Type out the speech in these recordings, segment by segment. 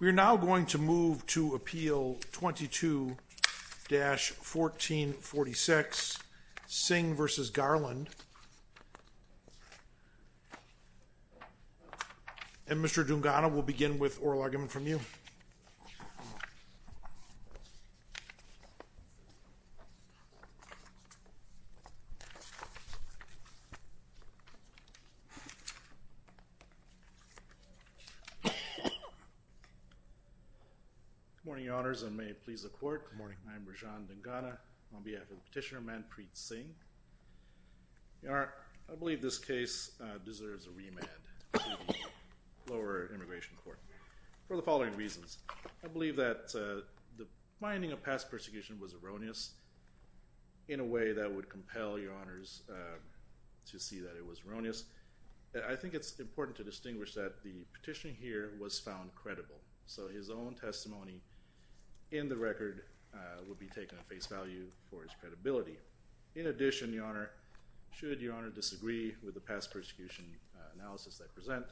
We are now going to move to appeal 22-1446 Singh v. Garland and Mr. Dungana will begin with oral argument from you. Good morning, Your Honours, and may it please the Court. Good morning. I am Rajan Dungana on behalf of Petitioner Manpreet Singh. Your Honour, I believe this case deserves a remand to the Lower Immigration Court for the following reasons. I believe that the finding of past persecution was erroneous in a way that would compel Your Honours to see that it was erroneous. I think it is important to distinguish that the petitioner here was found credible, so his own testimony in the record would be taken at face value for his credibility. In addition, Your Honour, should Your Honour disagree with the past persecution analysis I present,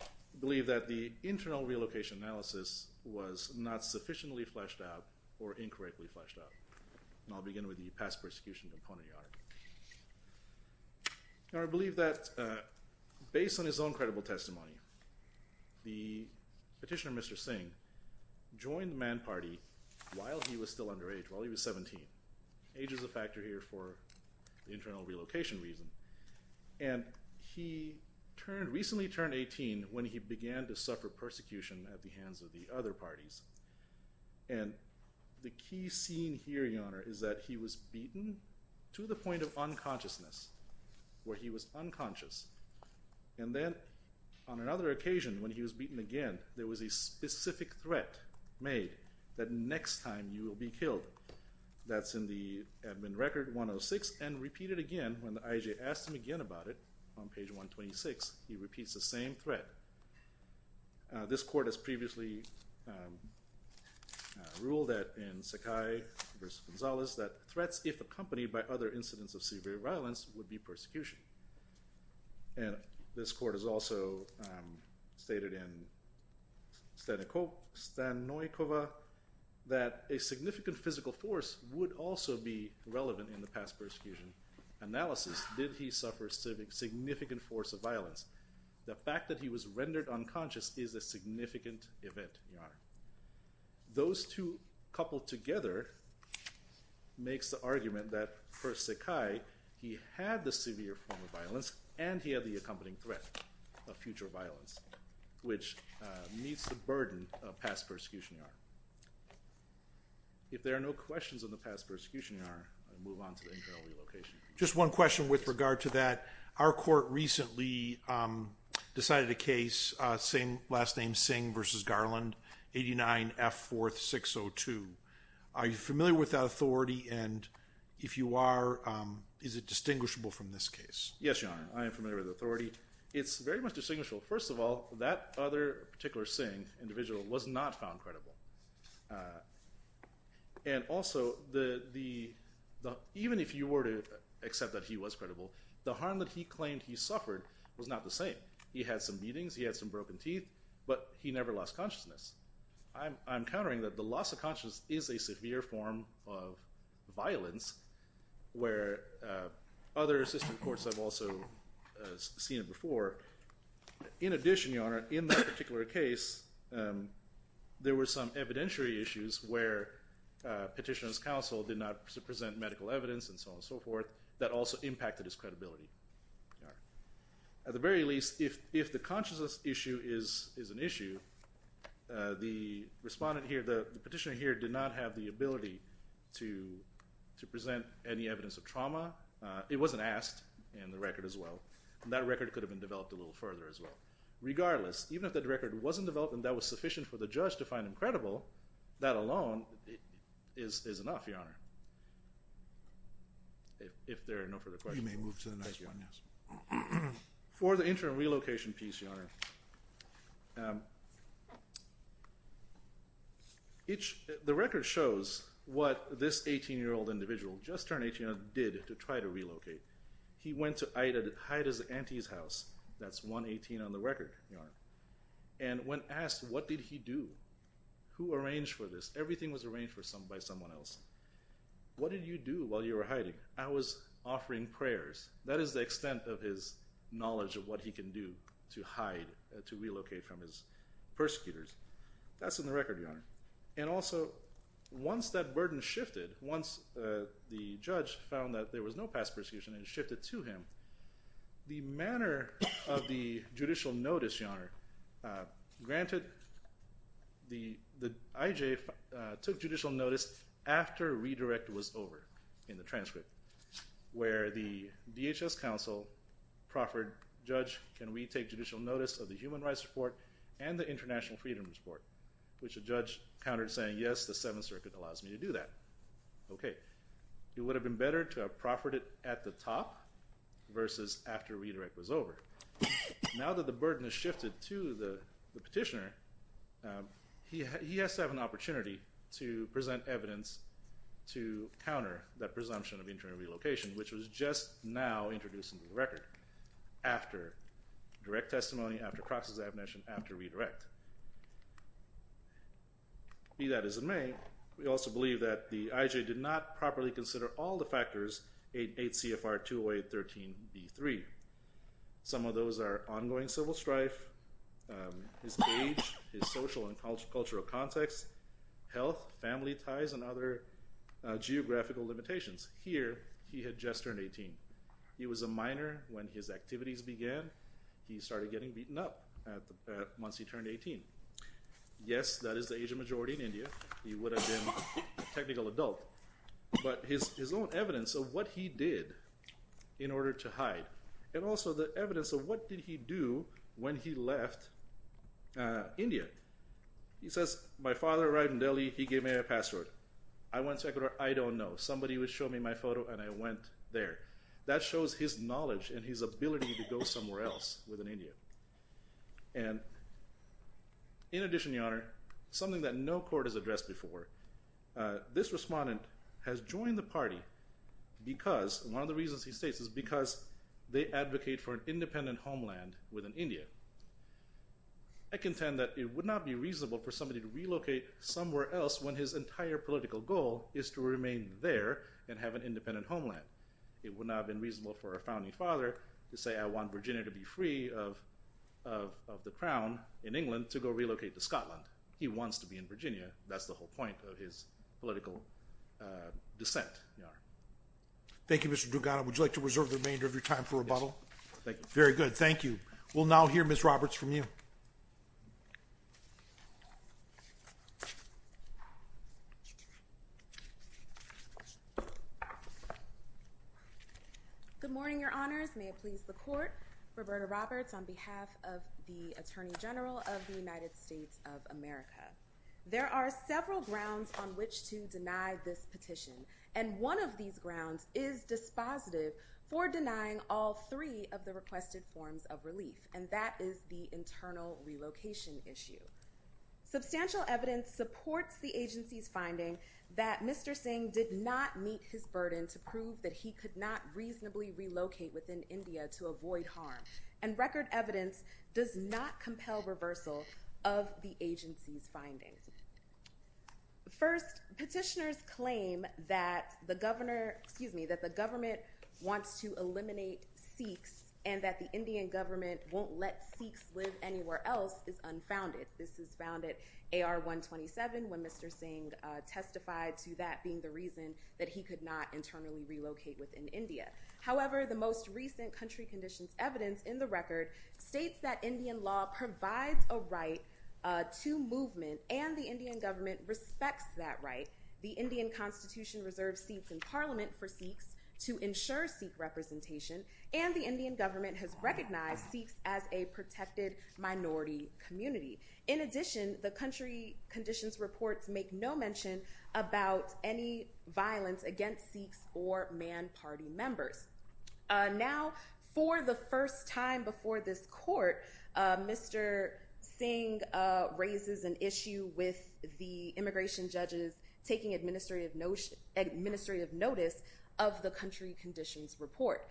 I believe that the internal relocation analysis was not sufficiently fleshed out or incorrectly fleshed out. I believe that based on his own credible testimony, the petitioner Mr. Singh joined the Man Party while he was still underage, while he was 17. Age is a factor here for the internal relocation reason. He recently turned 18 when he began to suffer persecution at the hands of the other parties. And the key scene here, Your Honour, is that he was beaten to the point of unconsciousness, where he was unconscious. And then on another occasion when he was beaten again, there was a specific threat made that next time you will be killed. That's in the admin record 106 and repeated again when the IJ asked him again about it on page 126, he repeats the same threat. This court has previously ruled that in Sakai v. Gonzalez that threats, if accompanied by other incidents of severe violence, would be persecution. And this court has also stated in Stanoikova that a significant physical force would also be relevant in the past persecution analysis. Did he suffer a significant force of violence? The fact that he was rendered unconscious is a significant event, Your Honour. Those two coupled together makes the argument that for Sakai, he had the severe form of violence and he had the accompanying threat of future violence, which meets the burden of past persecution, Your Honour. If there are no questions on the past persecution, Your Honour, I move on to the internal relocation. Just one question with regard to that. Our court recently decided a case, last name Singh v. Garland, 89F4602. Are you familiar with that authority and if you are, is it distinguishable from this case? Yes, Your Honour, I am familiar with the authority. It's very much distinguishable. First of all, that other particular Singh individual was not found credible. And also, even if you were to accept that he was credible, the harm that he claimed he suffered was not the same. He had some beatings, he had some broken teeth, but he never lost consciousness. I'm countering that the loss of consciousness is a severe form of violence where other assistant courts have also seen it before. In addition, Your Honour, in that particular case, there were some evidentiary issues where petitioner's counsel did not present medical evidence and so on and so forth that also impacted his credibility. At the very least, if the consciousness issue is an issue, the petitioner here did not have the ability to present any evidence of trauma. It wasn't asked in the record as well. That record could have been developed a little further as well. Regardless, even if that record wasn't developed and that was sufficient for the judge to find him credible, that alone is enough, Your Honour. If there are no further questions. We may move to the next one, yes. For the interim relocation piece, Your Honour, the record shows what this 18-year-old individual, just turned 18, did to try to relocate. He went to Ida's auntie's house. That's 118 on the record, Your Honour. And when asked what did he do, who arranged for this, everything was arranged by someone else. What did you do while you were hiding? I was offering prayers. That is the extent of his knowledge of what he can do to hide, to relocate from his persecutors. That's in the record, Your Honour. And also, once that burden shifted, once the judge found that there was no past persecution and it shifted to him, the manner of the judicial notice, Your Honour, granted, the IJ took judicial notice after redirect was over in the transcript, where the DHS counsel proffered, Judge, can we take judicial notice of the Human Rights Report and the International Freedom Report? Which the judge countered saying, yes, the Seventh Circuit allows me to do that. Okay. It would have been better to have proffered it at the top versus after redirect was over. Now that the burden has shifted to the petitioner, he has to have an opportunity to present evidence to counter that presumption of internal relocation, which was just now introduced into the record, after direct testimony, after cross-examination, after redirect. Be that as it may, we also believe that the IJ did not properly consider all the factors 8 CFR 208.13.b.3. Some of those are ongoing civil strife, his age, his social and cultural context, health, family ties, and other geographical limitations. Here, he had just turned 18. He was a minor when his activities began. He started getting beaten up once he turned 18. Yes, that is the Asian majority in India. He would have been a technical adult. But his own evidence of what he did in order to hide, and also the evidence of what did he do when he left India. He says, my father arrived in Delhi. He gave me a password. I went to Ecuador. I don't know. Somebody would show me my photo, and I went there. That shows his knowledge and his ability to go somewhere else within India. And in addition, Your Honor, something that no court has addressed before. This respondent has joined the party because one of the reasons he states is because they advocate for an independent homeland within India. I contend that it would not be reasonable for somebody to relocate somewhere else when his entire political goal is to remain there and have an independent homeland. It would not have been reasonable for a founding father to say, I want Virginia to be free of the crown in England to go relocate to Scotland. He wants to be in Virginia. That's the whole point of his political dissent, Your Honor. Thank you, Mr. Dugan. Would you like to reserve the remainder of your time for rebuttal? Yes, thank you. Very good. Thank you. We'll now hear Ms. Roberts from you. Good morning, Your Honors. May it please the court. Roberta Roberts on behalf of the Attorney General of the United States of America. There are several grounds on which to deny this petition. And one of these grounds is dispositive for denying all three of the requested forms of relief, and that is the internal relocation issue. Substantial evidence supports the agency's finding that Mr. Singh did not meet his burden to prove that he could not reasonably relocate within India to avoid harm. And record evidence does not compel reversal of the agency's findings. First, petitioners claim that the government wants to eliminate Sikhs and that the Indian government won't let Sikhs live anywhere else is unfounded. This is found at AR-127 when Mr. Singh testified to that being the reason that he could not internally relocate within India. However, the most recent country conditions evidence in the record states that Indian law provides a right to movement, and the Indian government respects that right. The Indian constitution reserves seats in parliament for Sikhs to ensure Sikh representation, and the Indian government has recognized Sikhs as a protected minority community. In addition, the country conditions reports make no mention about any violence against Sikhs or man party members. Now, for the first time before this court, Mr. Singh raises an issue with the immigration judges taking administrative notice of the country conditions report.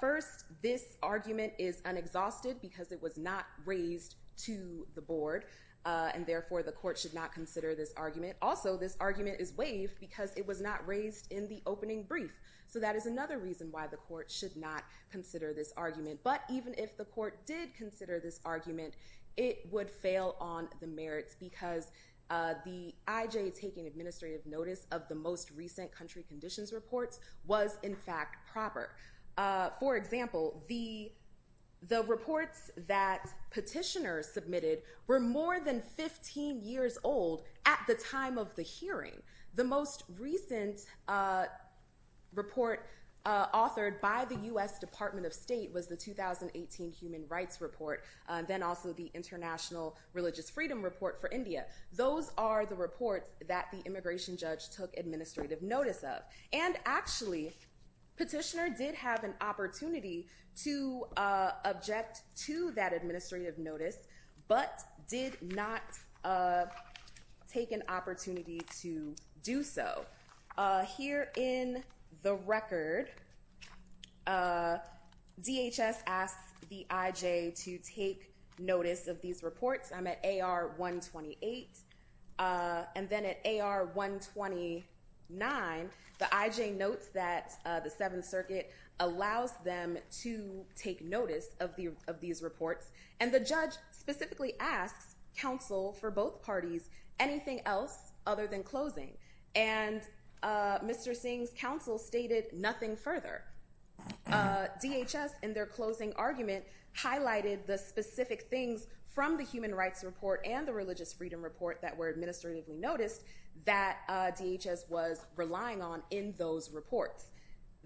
First, this argument is unexhausted because it was not raised to the board, and therefore the court should not consider this argument. Also, this argument is waived because it was not raised in the opening brief. So that is another reason why the court should not consider this argument. But even if the court did consider this argument, it would fail on the merits because the IJ taking administrative notice of the most recent country conditions reports was in fact proper. For example, the reports that petitioners submitted were more than 15 years old at the time of the hearing. The most recent report authored by the U.S. Department of State was the 2018 Human Rights Report, then also the International Religious Freedom Report for India. Those are the reports that the immigration judge took administrative notice of. And actually, petitioner did have an opportunity to object to that administrative notice, but did not take an opportunity to do so. So here in the record, DHS asks the IJ to take notice of these reports. I'm at AR 128. And then at AR 129, the IJ notes that the Seventh Circuit allows them to take notice of these reports. And the judge specifically asks counsel for both parties anything else other than closing. And Mr. Singh's counsel stated nothing further. DHS, in their closing argument, highlighted the specific things from the Human Rights Report and the Religious Freedom Report that were administratively noticed that DHS was relying on in those reports.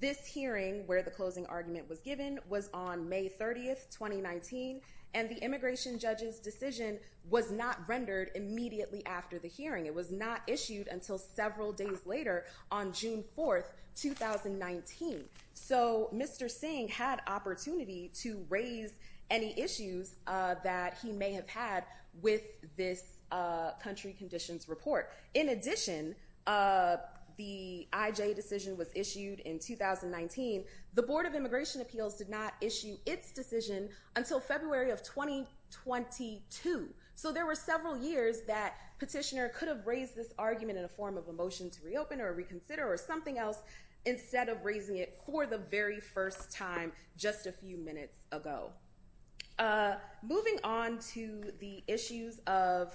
This hearing, where the closing argument was given, was on May 30, 2019. And the immigration judge's decision was not rendered immediately after the hearing. It was not issued until several days later on June 4, 2019. So Mr. Singh had opportunity to raise any issues that he may have had with this country conditions report. In addition, the IJ decision was issued in 2019. The Board of Immigration Appeals did not issue its decision until February of 2022. So there were several years that petitioner could have raised this argument in a form of a motion to reopen or reconsider or something else instead of raising it for the very first time just a few minutes ago. Moving on to the issues of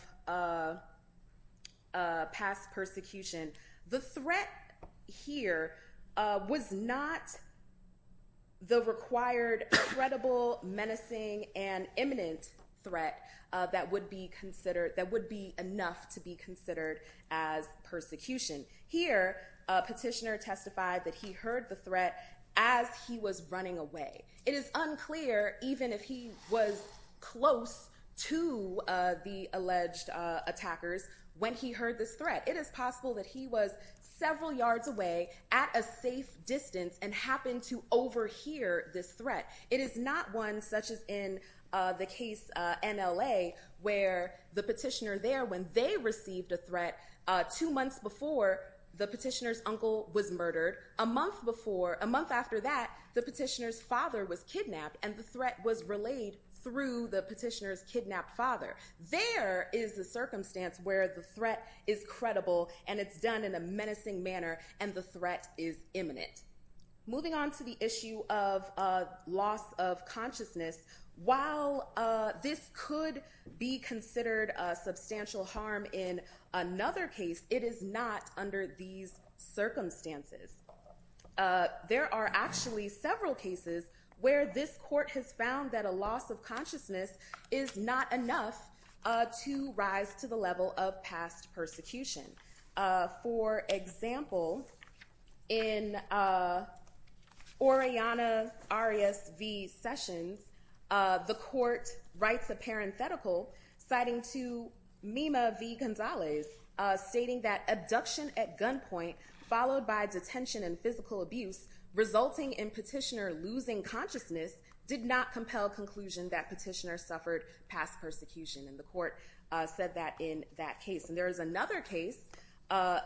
past persecution, the threat here was not the required credible, menacing, and imminent threat that would be enough to be considered as persecution. Here, a petitioner testified that he heard the threat as he was running away. It is unclear even if he was close to the alleged attackers when he heard this threat. It is possible that he was several yards away at a safe distance and happened to overhear this threat. It is not one such as in the case NLA where the petitioner there when they received a threat two months before the petitioner's uncle was murdered. A month before, a month after that, the petitioner's father was kidnapped and the threat was relayed through the petitioner's kidnapped father. There is a circumstance where the threat is credible and it's done in a menacing manner and the threat is imminent. Moving on to the issue of loss of consciousness, while this could be considered a substantial harm in another case, it is not under these circumstances. There are actually several cases where this court has found that a loss of consciousness is not enough to rise to the level of past persecution. For example, in Oriana Arias v. Sessions, the court writes a parenthetical citing to Mima v. Gonzalez stating that abduction at gunpoint followed by detention and physical abuse resulting in petitioner losing consciousness did not compel conclusion that petitioner suffered past persecution. And the court said that in that case. And there is another case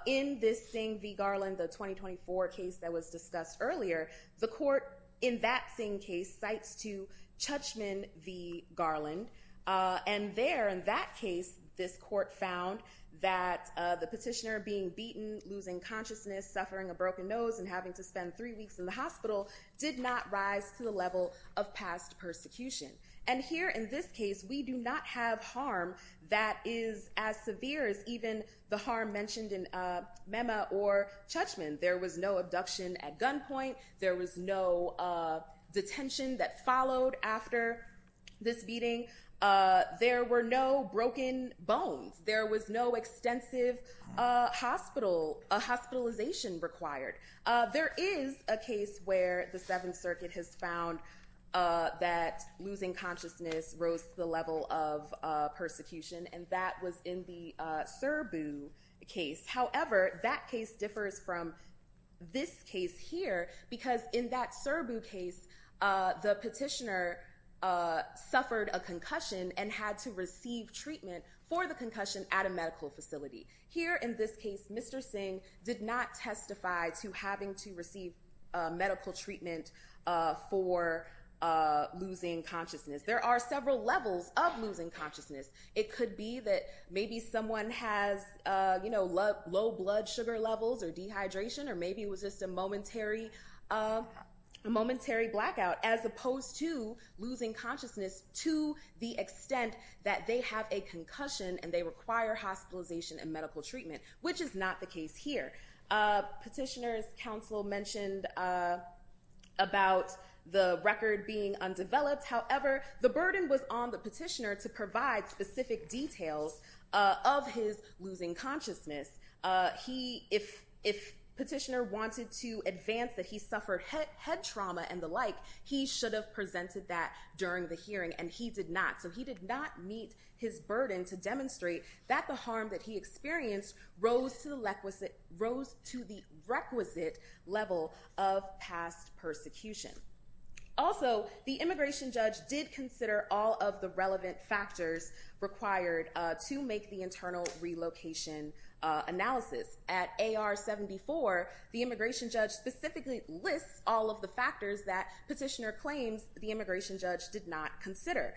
in this Singh v. Garland, the 2024 case that was discussed earlier. The court in that same case cites to Tuchman v. Garland. And there in that case, this court found that the petitioner being beaten, losing consciousness, suffering a broken nose and having to spend three weeks in the hospital did not rise to the level of past persecution. And here in this case, we do not have harm that is as severe as even the harm mentioned in Mima or Tuchman. There was no abduction at gunpoint. There was no detention that followed after this beating. There were no broken bones. There was no extensive hospitalization required. There is a case where the Seventh Circuit has found that losing consciousness rose to the level of persecution. And that was in the Serbu case. However, that case differs from this case here because in that Serbu case, the petitioner suffered a concussion and had to receive treatment for the concussion at a medical facility. Here in this case, Mr. Singh did not testify to having to receive medical treatment for losing consciousness. There are several levels of losing consciousness. It could be that maybe someone has low blood sugar levels or dehydration or maybe it was just a momentary blackout, as opposed to losing consciousness to the extent that they have a concussion and they require hospitalization and medical treatment, which is not the case here. Petitioner's counsel mentioned about the record being undeveloped. However, the burden was on the petitioner to provide specific details of his losing consciousness. If petitioner wanted to advance that he suffered head trauma and the like, he should have presented that during the hearing, and he did not. So he did not meet his burden to demonstrate that the harm that he experienced rose to the requisite level of past persecution. Also, the immigration judge did consider all of the relevant factors required to make the internal relocation analysis. At AR-74, the immigration judge specifically lists all of the factors that petitioner claims the immigration judge did not consider.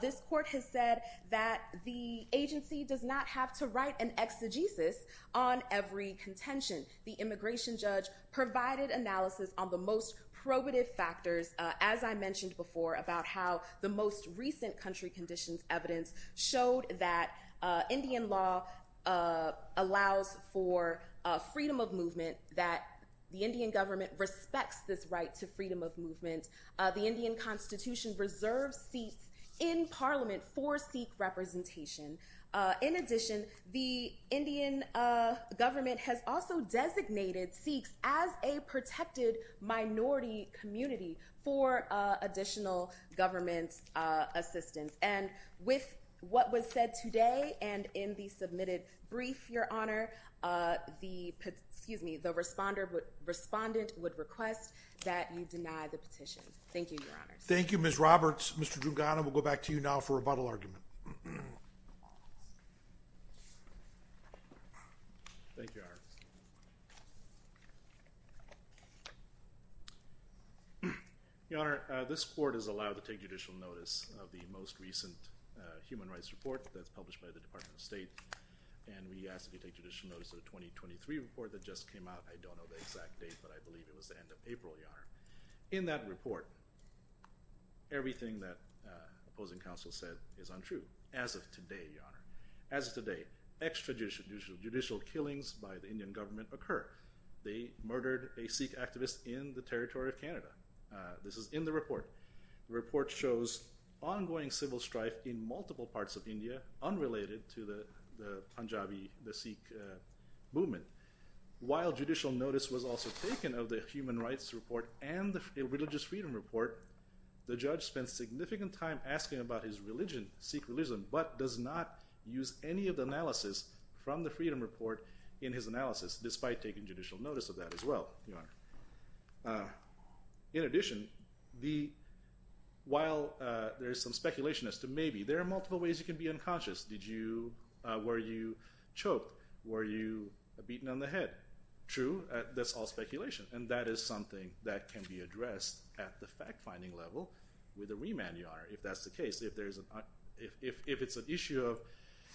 This court has said that the agency does not have to write an exegesis on every contention. The immigration judge provided analysis on the most probative factors, as I mentioned before, about how the most recent country conditions evidence showed that Indian law allows for freedom of movement, that the Indian government respects this right to freedom of movement. The Indian constitution reserves seats in parliament for Sikh representation. In addition, the Indian government has also designated Sikhs as a protected minority community for additional government assistance. And with what was said today and in the submitted brief, Your Honor, the respondent would request that you deny the petition. Thank you, Your Honor. Thank you, Ms. Roberts. Mr. Duggana, we'll go back to you now for rebuttal argument. Thank you, Your Honor. Your Honor, this court has allowed to take judicial notice of the most recent human rights report that's published by the Department of State. And we ask that you take judicial notice of the 2023 report that just came out. I don't know the exact date, but I believe it was the end of April, Your Honor. In that report, everything that opposing counsel said is untrue, as of today, Your Honor. As of today, extrajudicial killings by the Indian government occur. They murdered a Sikh activist in the territory of Canada. This is in the report. The report shows ongoing civil strife in multiple parts of India unrelated to the Punjabi, the Sikh movement. While judicial notice was also taken of the human rights report and the religious freedom report, the judge spent significant time asking about his religion, Sikh religion, but does not use any of the analysis from the freedom report in his analysis, despite taking judicial notice of that as well, Your Honor. In addition, while there is some speculation as to maybe, there are multiple ways you can be unconscious. Were you choked? Were you beaten on the head? True. That's all speculation. And that is something that can be addressed at the fact-finding level with a remand, Your Honor, if that's the case. If it's an issue of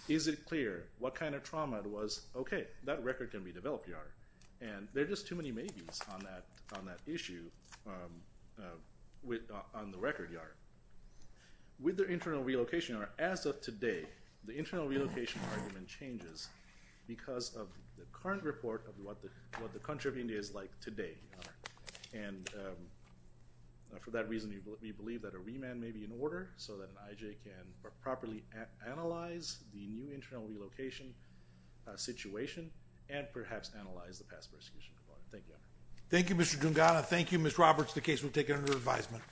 is it clear what kind of trauma it was, okay, that record can be developed, Your Honor. And there are just too many maybes on that issue on the record, Your Honor. With the internal relocation, Your Honor, as of today, the internal relocation argument changes because of the current report of what the country of India is like today, Your Honor. And for that reason, we believe that a remand may be in order so that an IJ can properly analyze the new internal relocation situation and perhaps analyze the past persecution. Thank you, Your Honor. Thank you, Mr. Dungana. Thank you, Ms. Roberts. The case will take it under advisement.